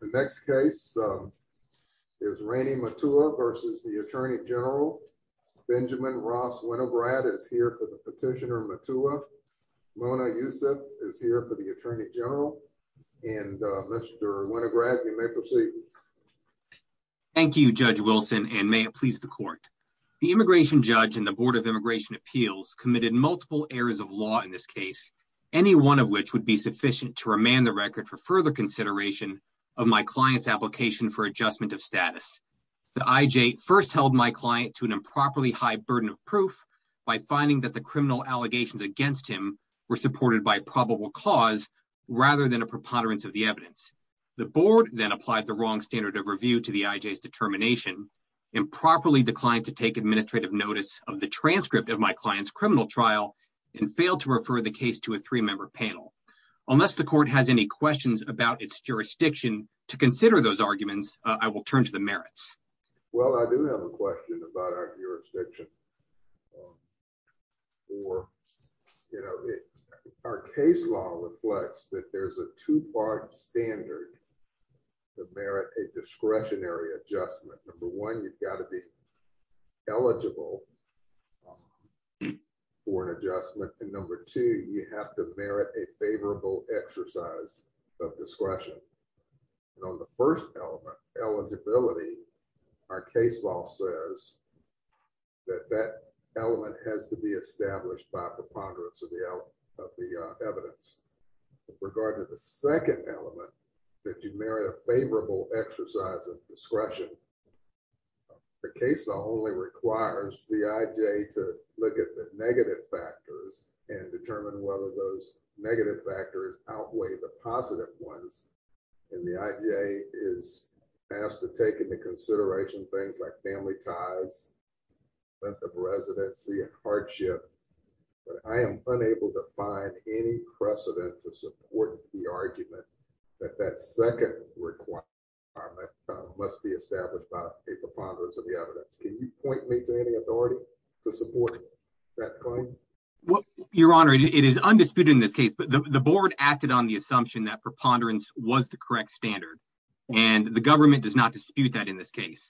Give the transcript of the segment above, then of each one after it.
The next case is Rainey Mutua v. U.S. Attorney General. Benjamin Ross Winograd is here for the petitioner Mutua. Mona Youssef is here for the attorney general. Mr. Winograd, you may proceed. Thank you, Judge Wilson, and may it please the court. The immigration judge and the Board of Immigration Appeals committed multiple errors of law in this case, any one of which would be sufficient to remand the record for further consideration of my client's application for adjustment of status. The IJ first held my client to an improperly high burden of proof by finding that the criminal allegations against him were supported by probable cause rather than a preponderance of the evidence. The Board then applied the wrong standard of review to the IJ's determination, improperly declined to take administrative notice of the transcript of my client's criminal trial, and failed to refer the case to a three-member panel. Unless the court has any questions about its jurisdiction to consider those arguments, I will turn to the merits. Well, I do have a question about our jurisdiction. Our case law reflects that there's a two-part standard to merit a discretionary adjustment. Number one, you've got to be eligible for an adjustment. And number two, you have to merit a favorable exercise of discretion. And on the first element, eligibility, our case law says that that element has to be established by preponderance of the evidence. With regard to the second element, that you merit a favorable exercise of discretion, the case law only requires the IJ to look at the negative factors and determine whether those negative factors outweigh the positive ones. And the IJ is asked to take into consideration things like family ties, length of residency, and hardship. But I am unable to find any precedent to support the argument that that second requirement must be established by a preponderance of the evidence. Can you point me to any authority to support that claim? Your Honor, it is undisputed in this case, but the board acted on the assumption that preponderance was the correct standard. And the government does not dispute that in this case.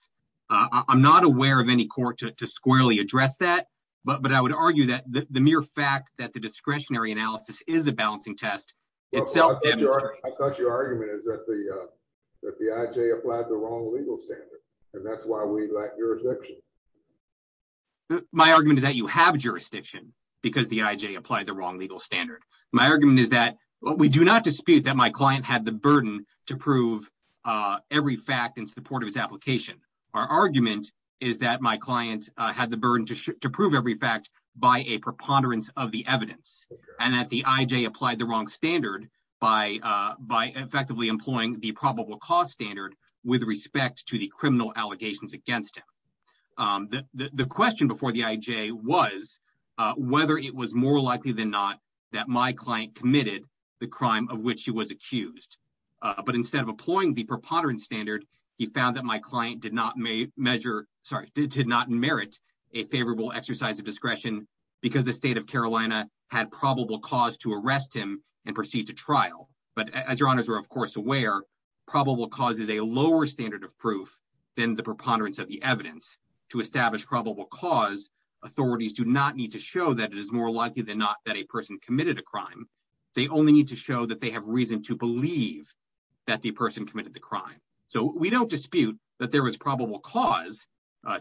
I'm not aware of any court to squarely address that. But I would argue that the mere fact that the discretionary analysis is a balancing test, it's self-demonstrating. I thought your argument is that the IJ applied the wrong legal standard, and that's why we lack jurisdiction. My argument is that you have jurisdiction because the IJ applied the wrong legal standard. My argument is that we do not dispute that my client had the burden to prove every fact in support of his application. Our argument is that my client had the burden to prove every fact by a preponderance of the evidence, and that the IJ applied the wrong standard by effectively employing the probable cause standard with respect to the criminal allegations against him. The question before the IJ was whether it was more likely than not that my client committed the crime of which he was accused. But instead of employing the preponderance standard, he found that my client did not merit a favorable exercise of discretion because the state of Carolina had probable cause to arrest him and proceed to trial. But as your honors are, of course, aware, probable cause is a lower standard of proof than the preponderance of the evidence. To establish probable cause, authorities do not need to show that it is more likely than not that a person committed a crime. They only need to show that they have reason to believe that the person committed the crime. So we don't dispute that there was probable cause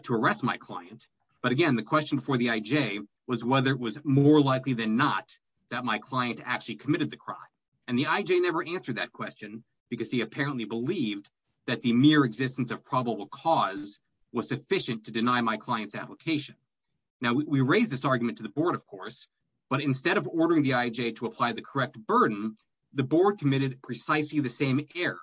to arrest my client. But again, the question before the IJ was whether it was more likely than not that my client actually committed the crime. And the IJ never answered that question because he apparently believed that the mere existence of probable cause was sufficient to deny my client's application. Now, we raise this argument to the board, of course, but instead of ordering the IJ to apply the correct burden, the board committed precisely the same error.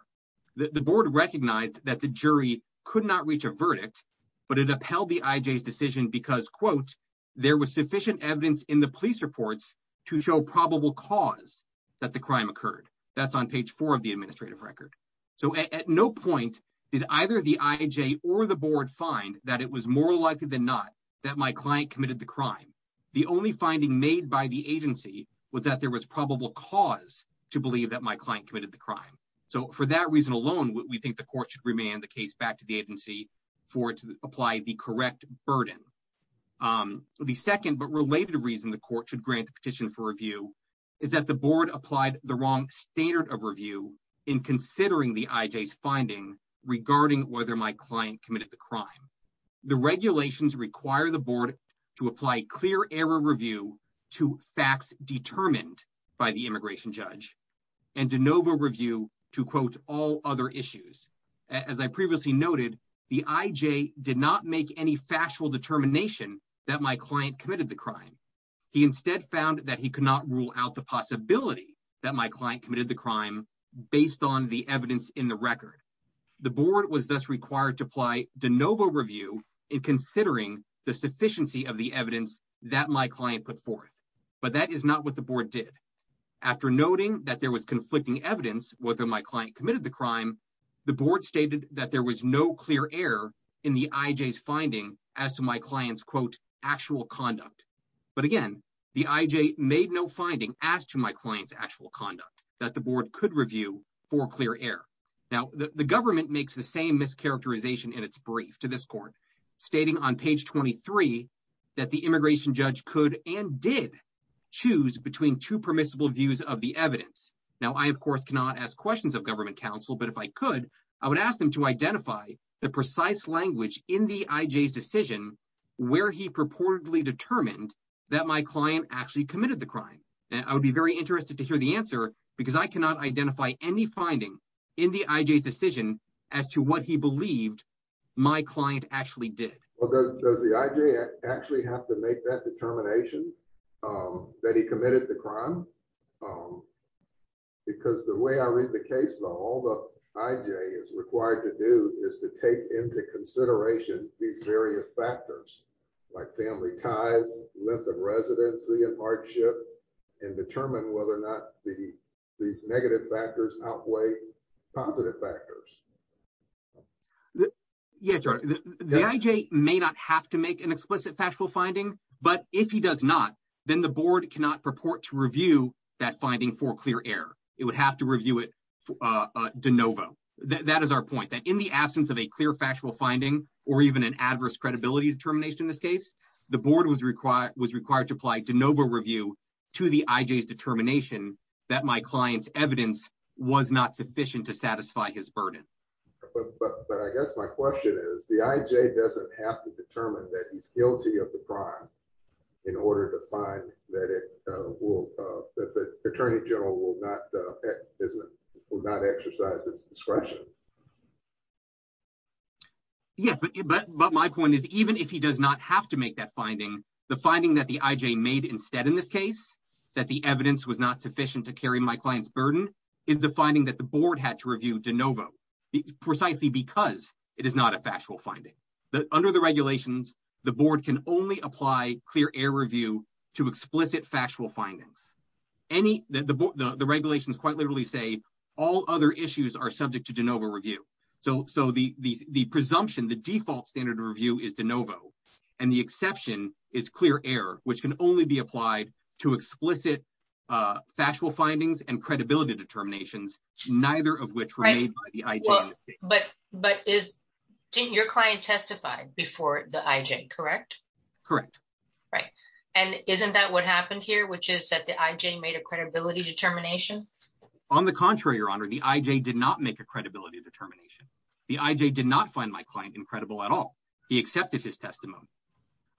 The board recognized that the jury could not reach a verdict, but it upheld the IJ's decision because, quote, there was sufficient evidence in the police reports to show probable cause that the crime occurred. That's on page four of the administrative record. So at no point did either the IJ or the board find that it was more likely than not that my client committed the crime. The only finding made by the agency was that there was probable cause to believe that my client committed the crime. So for that reason alone, we think the court should remand the case back to the agency for it to apply the correct burden. The second but related reason the court should grant the petition for review is that the board applied the wrong standard of review in considering the IJ's finding regarding whether my client committed the crime. The regulations require the board to apply clear error review to facts determined by the immigration judge and de novo review to, quote, all other issues. As I previously noted, the IJ did not make any factual determination that my client committed the crime. He instead found that he could not rule out the possibility that my client committed the crime based on the evidence in the record. The board was thus required to apply de novo review in considering the sufficiency of the evidence that my client put forth. But that is not what the board did. After noting that there was conflicting evidence whether my client committed the crime, the board stated that there was no clear error in the IJ's finding as to my client's, quote, actual conduct. But again, the IJ made no finding as to my client's actual conduct that the board could review for clear error. Now, the government makes the same mischaracterization in its brief to this court, stating on page 23 that the immigration judge could and did choose between two permissible views of the evidence. Now, I, of course, cannot ask questions of government counsel, but if I could, I would ask them to identify the precise language in the IJ's decision where he purportedly determined that my client actually committed the crime. And I would be very interested to hear the answer because I cannot identify any finding in the IJ's decision as to what he believed my client actually did. Well, does the IJ actually have to make that determination that he committed the crime? Because the way I read the case law, all the IJ is required to do is to take into consideration these various factors, like family ties, length of residency and hardship, and determine whether or not these negative factors outweigh positive factors. Yes, the IJ may not have to make an explicit factual finding, but if he does not, then the board cannot purport to review that finding for clear error. It would have to review it de novo. That is our point, that in the absence of a clear factual finding or even an adverse credibility determination in this case, the board was required to apply de novo review to the IJ's determination that my client's evidence was not sufficient to satisfy his burden. But I guess my question is, the IJ doesn't have to determine that he's guilty of the crime in order to find that the Attorney General will not exercise his discretion. Yes, but my point is, even if he does not have to make that finding, the finding that the IJ made instead in this case, that the evidence was not sufficient to carry my client's burden, is the finding that the board had to review de novo, precisely because it is not a factual finding. Under the regulations, the board can only apply clear error review to explicit factual findings. The regulations quite literally say all other issues are subject to de novo review. So the presumption, the default standard of review is de novo, and the exception is clear error, which can only be applied to explicit factual findings and credibility determinations, neither of which were made by the IJ in this case. But is your client testified before the IJ, correct? Correct. Right. And isn't that what happened here, which is that the IJ made a credibility determination? On the contrary, Your Honor, the IJ did not make a credibility determination. The IJ did not find my client incredible at all. He accepted his testimony.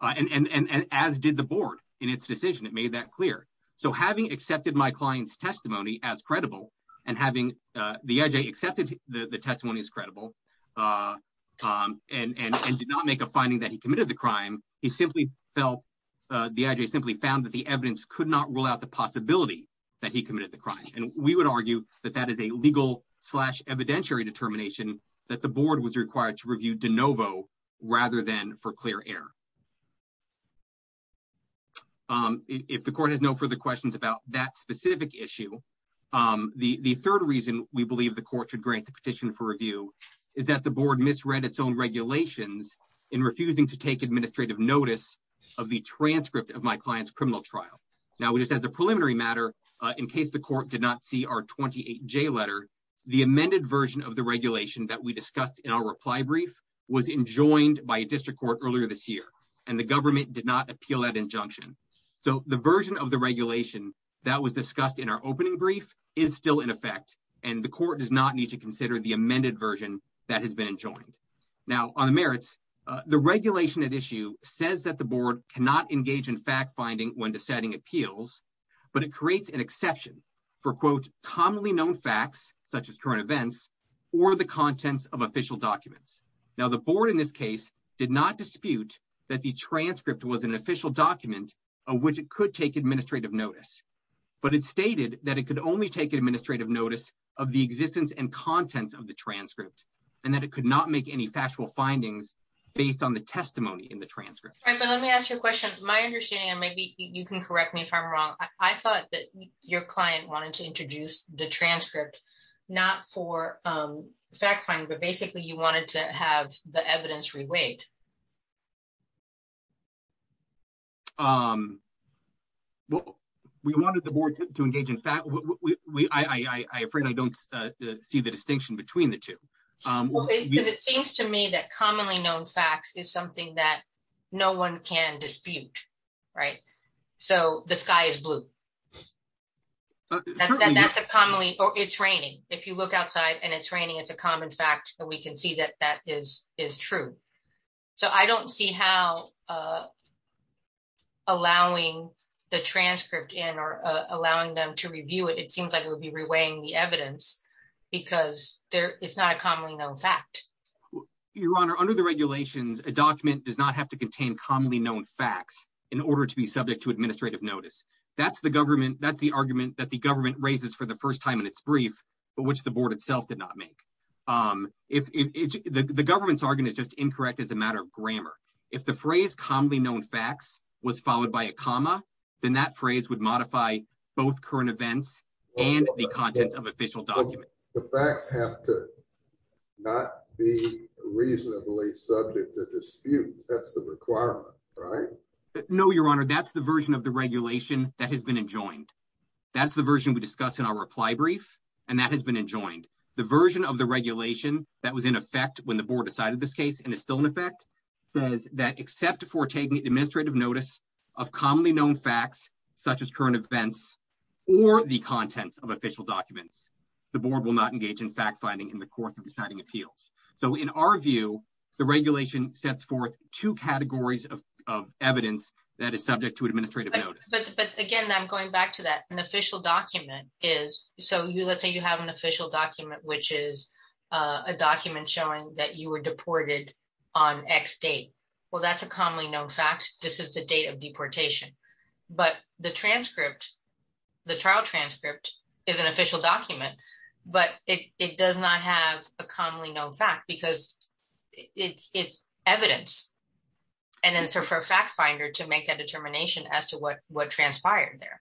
And as did the board in its decision, it made that clear. So having accepted my client's testimony as credible and having the IJ accepted the testimony as credible and did not make a finding that he committed the crime, he simply felt, the IJ simply found that the evidence could not rule out the possibility that he committed the crime. And we would argue that that is a legal slash evidentiary determination that the board was required to review de novo rather than for clear error. If the court has no further questions about that specific issue, the third reason we believe the court should grant the petition for review is that the board misread its own regulations in refusing to take administrative notice of the transcript of my client's criminal trial. Now, just as a preliminary matter, in case the court did not see our 28J letter, the amended version of the regulation that we discussed in our reply brief was enjoined by a district court earlier this year, and the government did not appeal that injunction. So the version of the regulation that was discussed in our opening brief is still in effect, and the court does not need to consider the amended version that has been enjoined. Now, on the merits, the regulation at issue says that the board cannot engage in fact-finding when deciding appeals, but it creates an exception for, quote, commonly known facts, such as current events, or the contents of official documents. Now, the board in this case did not dispute that the transcript was an official document of which it could take administrative notice, but it stated that it could only take administrative notice of the existence and contents of the transcript, and that it could not make any factual findings based on the testimony in the transcript. Let me ask you a question. My understanding, and maybe you can correct me if I'm wrong, I thought that your client wanted to introduce the transcript not for fact-finding, but basically you wanted to have the evidence reweighed. We wanted the board to engage in fact-finding. I afraid I don't see the distinction between the two. It seems to me that commonly known facts is something that no one can dispute, right? So the sky is blue. That's a commonly, or it's raining. If you look outside and it's raining, it's a common fact, and we can see that that is true. So I don't see how allowing the transcript in or allowing them to review it, it seems like it would be reweighing the evidence because it's not a commonly known fact. Your Honor, under the regulations, a document does not have to contain commonly known facts in order to be subject to administrative notice. That's the argument that the government raises for the first time in its brief, but which the board itself did not make. The government's argument is just incorrect as a matter of grammar. If the phrase commonly known facts was followed by a comma, then that phrase would modify both current events and the contents of official documents. The facts have to not be reasonably subject to dispute. That's the requirement, right? No, Your Honor, that's the version of the regulation that has been enjoined. That's the version we discussed in our reply brief, and that has been enjoined. The version of the regulation that was in effect when the board decided this case and is still in effect says that except for taking administrative notice of commonly known facts, such as current events or the contents of official documents, the board will not engage in fact-finding in the course of deciding appeals. So in our view, the regulation sets forth two categories of evidence that is subject to administrative notice. But again, I'm going back to that. An official document is – so let's say you have an official document, which is a document showing that you were deported on X date. Well, that's a commonly known fact. This is the date of deportation. But the transcript, the trial transcript is an official document, but it does not have a commonly known fact because it's evidence. And then so for a fact finder to make a determination as to what transpired there.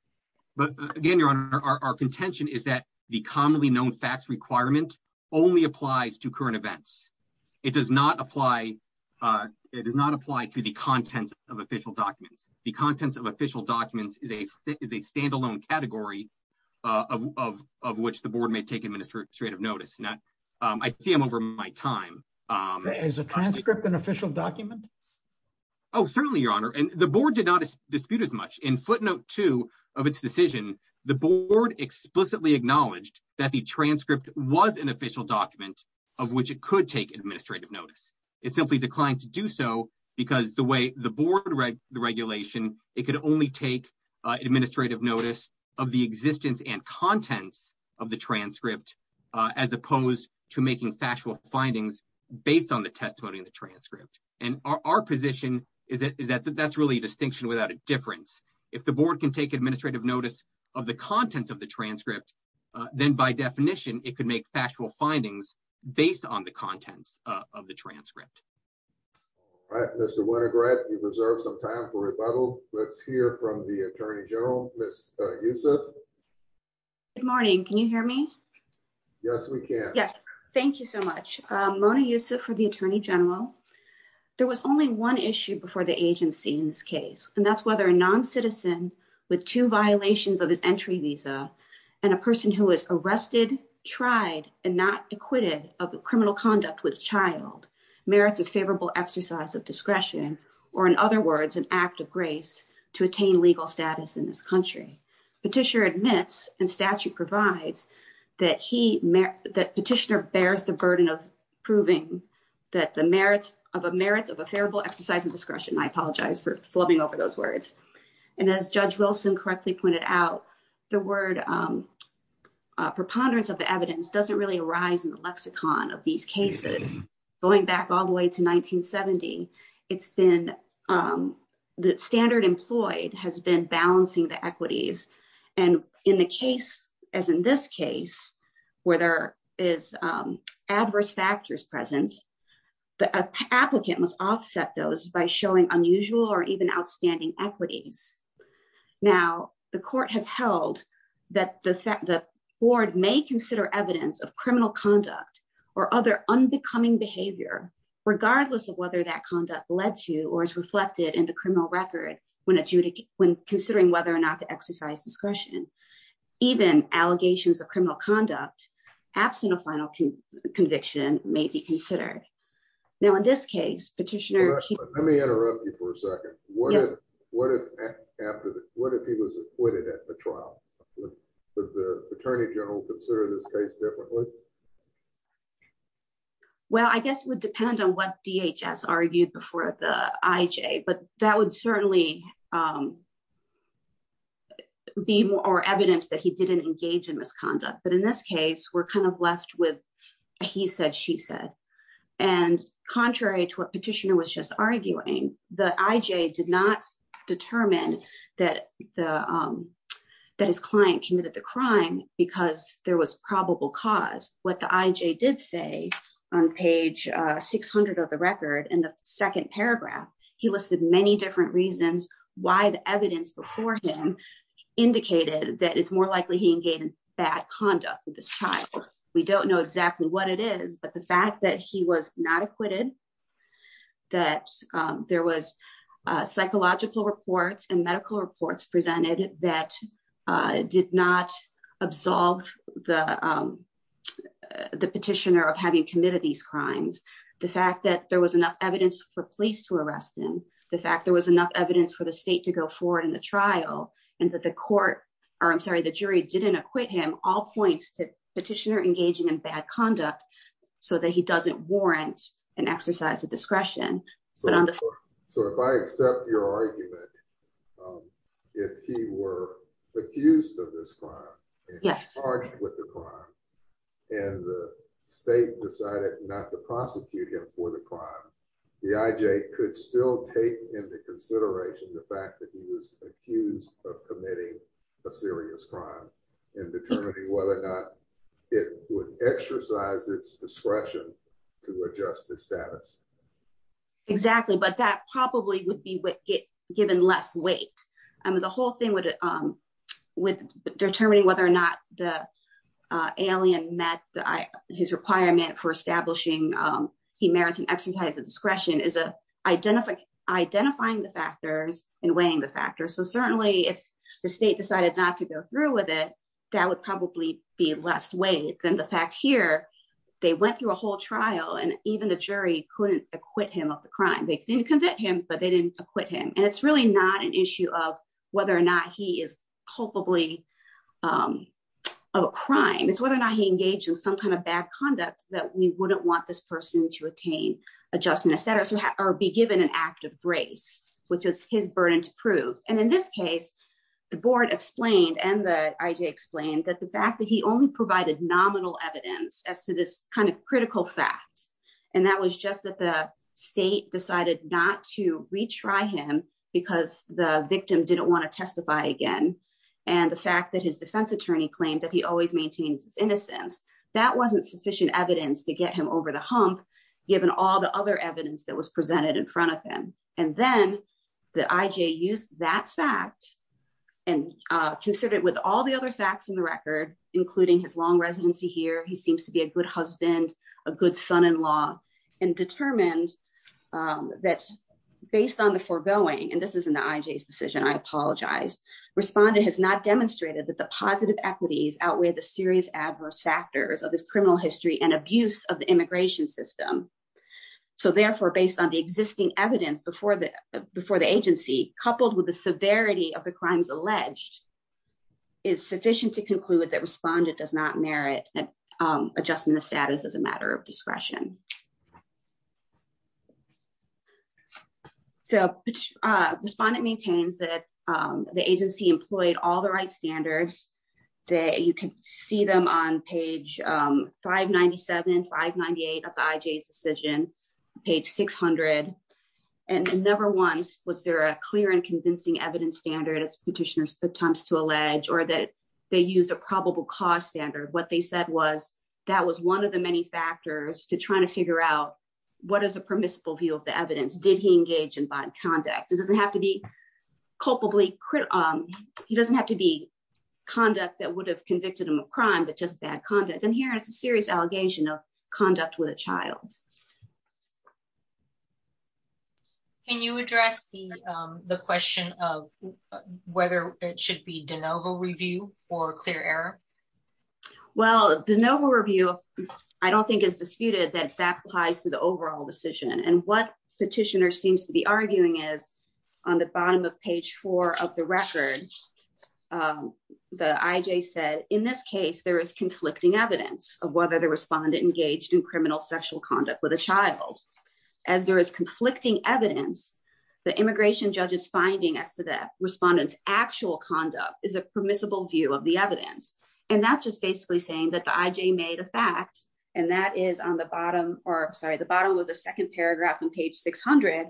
But again, Your Honor, our contention is that the commonly known facts requirement only applies to current events. It does not apply to the contents of official documents. The contents of official documents is a standalone category of which the board may take administrative notice. I see them over my time. Is a transcript an official document? Oh, certainly, Your Honor. And the board did not dispute as much in footnote two of its decision. The board explicitly acknowledged that the transcript was an official document of which it could take administrative notice. It simply declined to do so because the way the board read the regulation, it could only take administrative notice of the existence and contents of the transcript, as opposed to making factual findings based on the testimony in the transcript. And our position is that that's really a distinction without a difference. If the board can take administrative notice of the contents of the transcript, then by definition, it could make factual findings based on the contents of the transcript. All right, Mr. Winograd, you've reserved some time for rebuttal. Let's hear from the attorney general, Ms. Youssef. Good morning. Can you hear me? Yes, we can. Yes. Thank you so much. Mona Youssef for the attorney general. There was only one issue before the agency in this case. And that's whether a non-citizen with two violations of his entry visa and a person who is arrested, tried, and not acquitted of criminal conduct with a child merits a favorable exercise of discretion, or in other words, an act of grace to attain legal status in this country. Petitioner admits, and statute provides, that petitioner bears the burden of proving that the merits of a favorable exercise of discretion. I apologize for flubbing over those words. And as Judge Wilson correctly pointed out, the word preponderance of the evidence doesn't really arise in the lexicon of these cases. Going back all the way to 1970, the standard employed has been balancing the equities. And in the case, as in this case, where there is adverse factors present, the applicant must offset those by showing unusual or even outstanding equities. Now, the court has held that the board may consider evidence of criminal conduct or other unbecoming behavior, regardless of whether that conduct led to or is reflected in the criminal record when considering whether or not to exercise discretion. Even allegations of criminal conduct, absent of final conviction, may be considered. Now, in this case, petitioner... Let me interrupt you for a second. Yes. What if he was acquitted at the trial? Would the Attorney General consider this case differently? Well, I guess it would depend on what DHS argued before the IJ. But that would certainly be more evidence that he didn't engage in misconduct. But in this case, we're kind of left with a he said, she said. And contrary to what petitioner was just arguing, the IJ did not determine that his client committed the crime because there was probable cause. But contrary to what the IJ did say on page 600 of the record, in the second paragraph, he listed many different reasons why the evidence before him indicated that it's more likely he engaged in bad conduct with this child. We don't know exactly what it is, but the fact that he was not acquitted, that there was psychological reports and medical reports presented that did not absolve the petitioner of having committed these crimes. The fact that there was enough evidence for police to arrest him, the fact there was enough evidence for the state to go forward in the trial, and that the court, or I'm sorry, the jury didn't acquit him, all points to petitioner engaging in bad conduct so that he doesn't warrant an exercise of discretion. So if I accept your argument, if he were accused of this crime, charged with the crime, and the state decided not to prosecute him for the crime, the IJ could still take into consideration the fact that he was accused of committing a serious crime and determining whether or not it would exercise its discretion to adjust his status. Exactly. But that probably would be given less weight. I mean, the whole thing with determining whether or not the alien met his requirement for establishing he merits an exercise of discretion is identifying the factors and weighing the factors. So certainly if the state decided not to go through with it, that would probably be less weight than the fact here, they went through a whole trial and even the jury couldn't acquit him of the crime. They didn't convict him, but they didn't acquit him. And it's really not an issue of whether or not he is culpably a crime. It's whether or not he engaged in some kind of bad conduct that we wouldn't want this person to attain adjustment status or be given an act of grace, which is his burden to prove. And in this case, the board explained and the IJ explained that the fact that he only provided nominal evidence as to this kind of critical fact. And that was just that the state decided not to retry him because the victim didn't want to testify again. And the fact that his defense attorney claimed that he always maintains his innocence. That wasn't sufficient evidence to get him over the hump, given all the other evidence that was presented in front of him. And then the IJ used that fact and considered with all the other facts in the record, including his long residency here, he seems to be a good husband, a good son-in-law, and determined that based on the foregoing, and this is in the IJ's decision, I apologize. Respondent has not demonstrated that the positive equities outweigh the serious adverse factors of this criminal history and abuse of the immigration system. So therefore, based on the existing evidence before the agency, coupled with the severity of the crimes alleged is sufficient to conclude that respondent does not merit adjustment of status as a matter of discretion. So respondent maintains that the agency employed all the right standards that you can see them on page 597, 598 of the IJ's decision, page 600. And then number one, was there a clear and convincing evidence standard as petitioners attempts to allege or that they used a probable cause standard? What they said was that was one of the many factors to try to figure out what is a permissible view of the evidence. And then number two is, did he engage in bad conduct? It doesn't have to be culpably, he doesn't have to be conduct that would have convicted him of crime, but just bad conduct. And here it's a serious allegation of conduct with a child. Can you address the question of whether it should be de novo review or clear error? Well, de novo review, I don't think is disputed that that applies to the overall decision and what petitioner seems to be arguing is on the bottom of page four of the record. The IJ said, in this case, there is conflicting evidence of whether the respondent engaged in criminal sexual conduct with a child. As there is conflicting evidence, the immigration judge's finding as to the respondent's actual conduct is a permissible view of the evidence. And that's just basically saying that the IJ made a fact, and that is on the bottom, or sorry, the bottom of the second paragraph on page 600,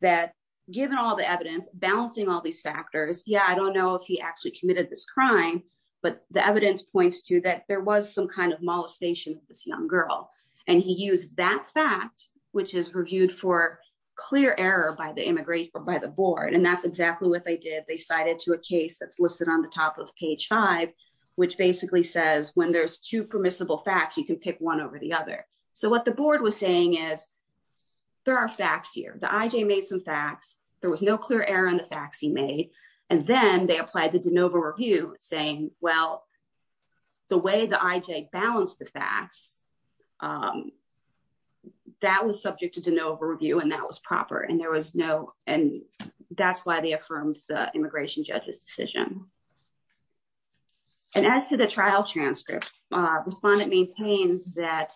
that given all the evidence, balancing all these factors, yeah, I don't know if he actually committed this crime, but the evidence points to that there was some kind of molestation of this young girl. And he used that fact, which is reviewed for clear error by the board. And that's exactly what they did. They cited to a case that's listed on the top of page five, which basically says when there's two permissible facts, you can pick one over the other. So what the board was saying is there are facts here. The IJ made some facts. There was no clear error in the facts he made. And then they applied the DeNova review, saying, well, the way the IJ balanced the facts, that was subject to DeNova review, and that was proper, and there was no, and that's why they affirmed the immigration judge's decision. And as to the trial transcript, respondent maintains that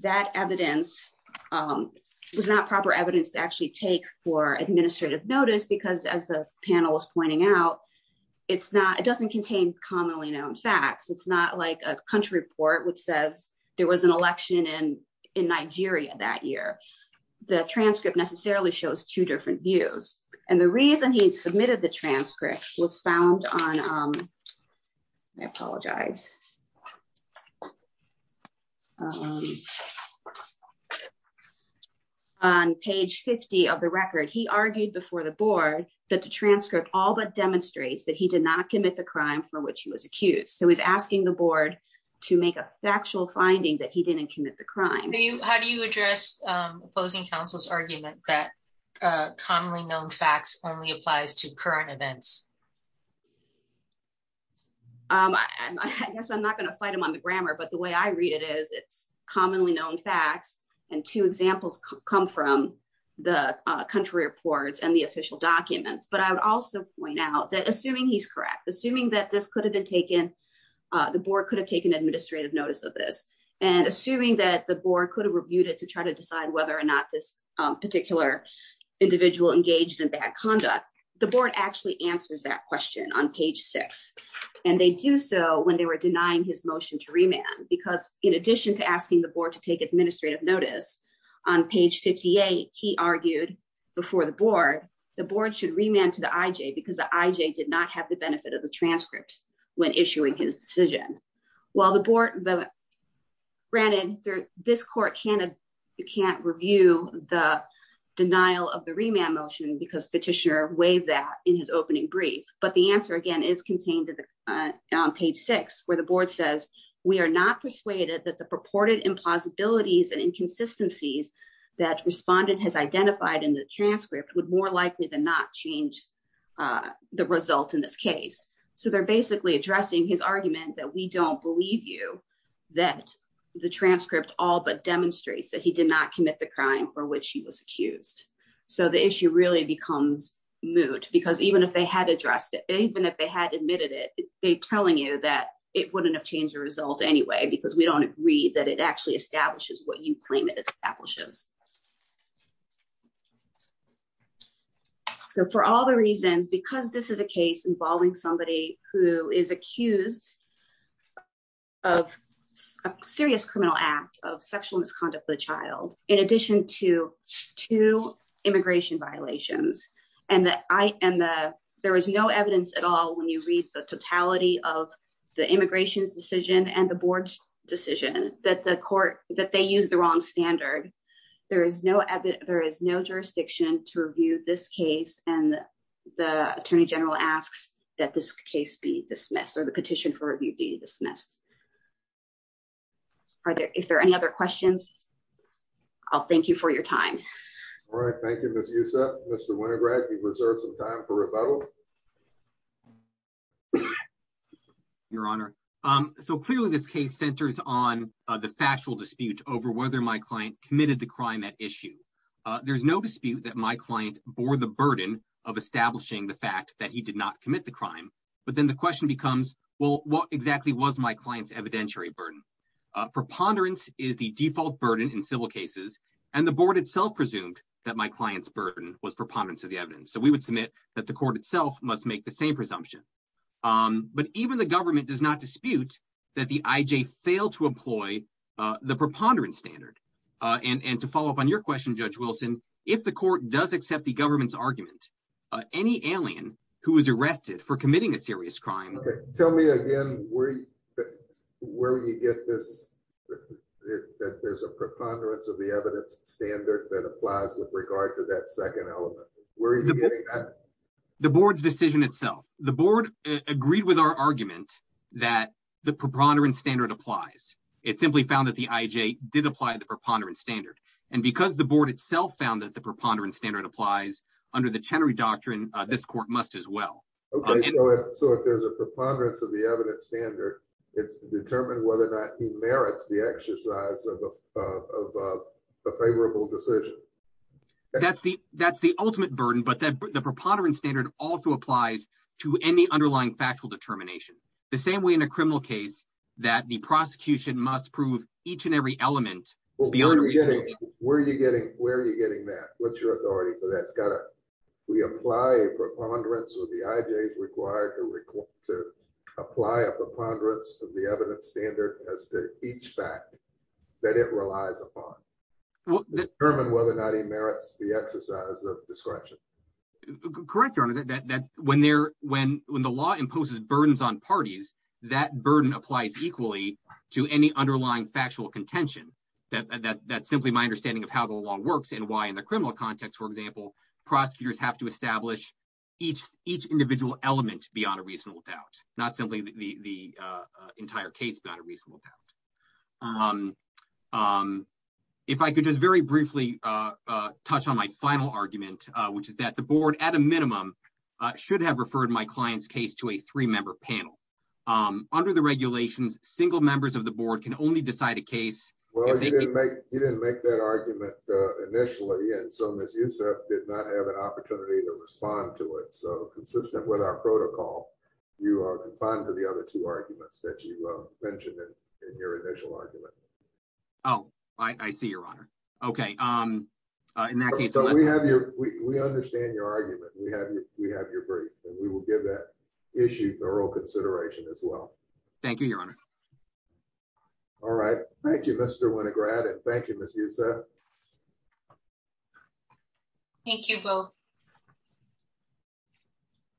that evidence was not proper evidence to actually take for administrative notice, because as the panel was pointing out, it's not, it doesn't contain commonly known facts. It's not like a country report, which says there was an election in Nigeria that year. The transcript necessarily shows two different views. And the reason he submitted the transcript was found on, I apologize, on page 50 of the record. He argued before the board that the transcript all but demonstrates that he did not commit the crime for which he was accused. So he's asking the board to make a factual finding that he didn't commit the crime. How do you address opposing counsel's argument that commonly known facts only applies to current events? I guess I'm not going to fight him on the grammar, but the way I read it is it's commonly known facts, and two examples come from the country reports and the official documents, but I would also point out that, assuming he's correct, assuming that this could have been taken, the board could have taken administrative notice of this. And assuming that the board could have reviewed it to try to decide whether or not this particular individual engaged in bad conduct, the board actually answers that question on page six. And they do so when they were denying his motion to remand, because in addition to asking the board to take administrative notice, on page 58, he argued before the board, the board should remand to the IJ because the IJ did not have the benefit of the transcript when issuing his decision. While the board, granted, this court can't review the denial of the remand motion because petitioner waived that in his opening brief, but the answer, again, is contained on page six, where the board says, we are not persuaded that the purported impossibilities and inconsistencies that respondent has identified in the transcript would more likely than not change the result in this case. So they're basically addressing his argument that we don't believe you that the transcript all but demonstrates that he did not commit the crime for which he was accused. So the issue really becomes moot, because even if they had addressed it, even if they had admitted it, they're telling you that it wouldn't have changed the result anyway, because we don't agree that it actually establishes what you claim it establishes. So for all the reasons, because this is a case involving somebody who is accused of a serious criminal act of sexual misconduct with a child, in addition to two immigration violations, and there is no evidence at all when you read the totality of the immigration's decision and the board's decision that the court, that they use the wrong standard. There is no, there is no jurisdiction to review this case, and the Attorney General asks that this case be dismissed or the petition for review be dismissed. Are there, if there are any other questions. I'll thank you for your time. All right, thank you. Mr. Winograd, you've reserved some time for rebuttal. Your Honor. So clearly this case centers on the factual dispute over whether my client committed the crime at issue. There's no dispute that my client bore the burden of establishing the fact that he did not commit the crime. But then the question becomes, well, what exactly was my client's evidentiary burden. Preponderance is the default burden in civil cases, and the board itself presumed that my client's burden was preponderance of the evidence. So we would submit that the court itself must make the same presumption. But even the government does not dispute that the IJ failed to employ the preponderance standard. And to follow up on your question, Judge Wilson, if the court does accept the government's argument, any alien who is arrested for committing a serious crime. Tell me again where you get this, that there's a preponderance of the evidence standard that applies with regard to that second element. The board's decision itself. The board agreed with our argument that the preponderance standard applies. It simply found that the IJ did apply the preponderance standard. And because the board itself found that the preponderance standard applies under the Chenery Doctrine, this court must as well. So if there's a preponderance of the evidence standard, it's determined whether or not he merits the exercise of a favorable decision. That's the ultimate burden, but the preponderance standard also applies to any underlying factual determination. The same way in a criminal case that the prosecution must prove each and every element. Where are you getting that? What's your authority for that? We apply a preponderance of the IJ's required to apply a preponderance of the evidence standard as to each fact that it relies upon. Determine whether or not he merits the exercise of discretion. Correct, Your Honor. When the law imposes burdens on parties, that burden applies equally to any underlying factual contention. That's simply my understanding of how the law works and why in the criminal context, for example, prosecutors have to establish each individual element beyond a reasonable doubt. Not simply the entire case beyond a reasonable doubt. If I could just very briefly touch on my final argument, which is that the board, at a minimum, should have referred my client's case to a three-member panel. Under the regulations, single members of the board can only decide a case. Well, you didn't make that argument initially, and so Ms. Yousef did not have an opportunity to respond to it. So, consistent with our protocol, you are confined to the other two arguments that you mentioned in your initial argument. Oh, I see, Your Honor. Okay. We understand your argument. We have your brief, and we will give that issue thorough consideration as well. Thank you, Your Honor. All right. Thank you, Mr. Winograd, and thank you, Ms. Yousef. Thank you, both.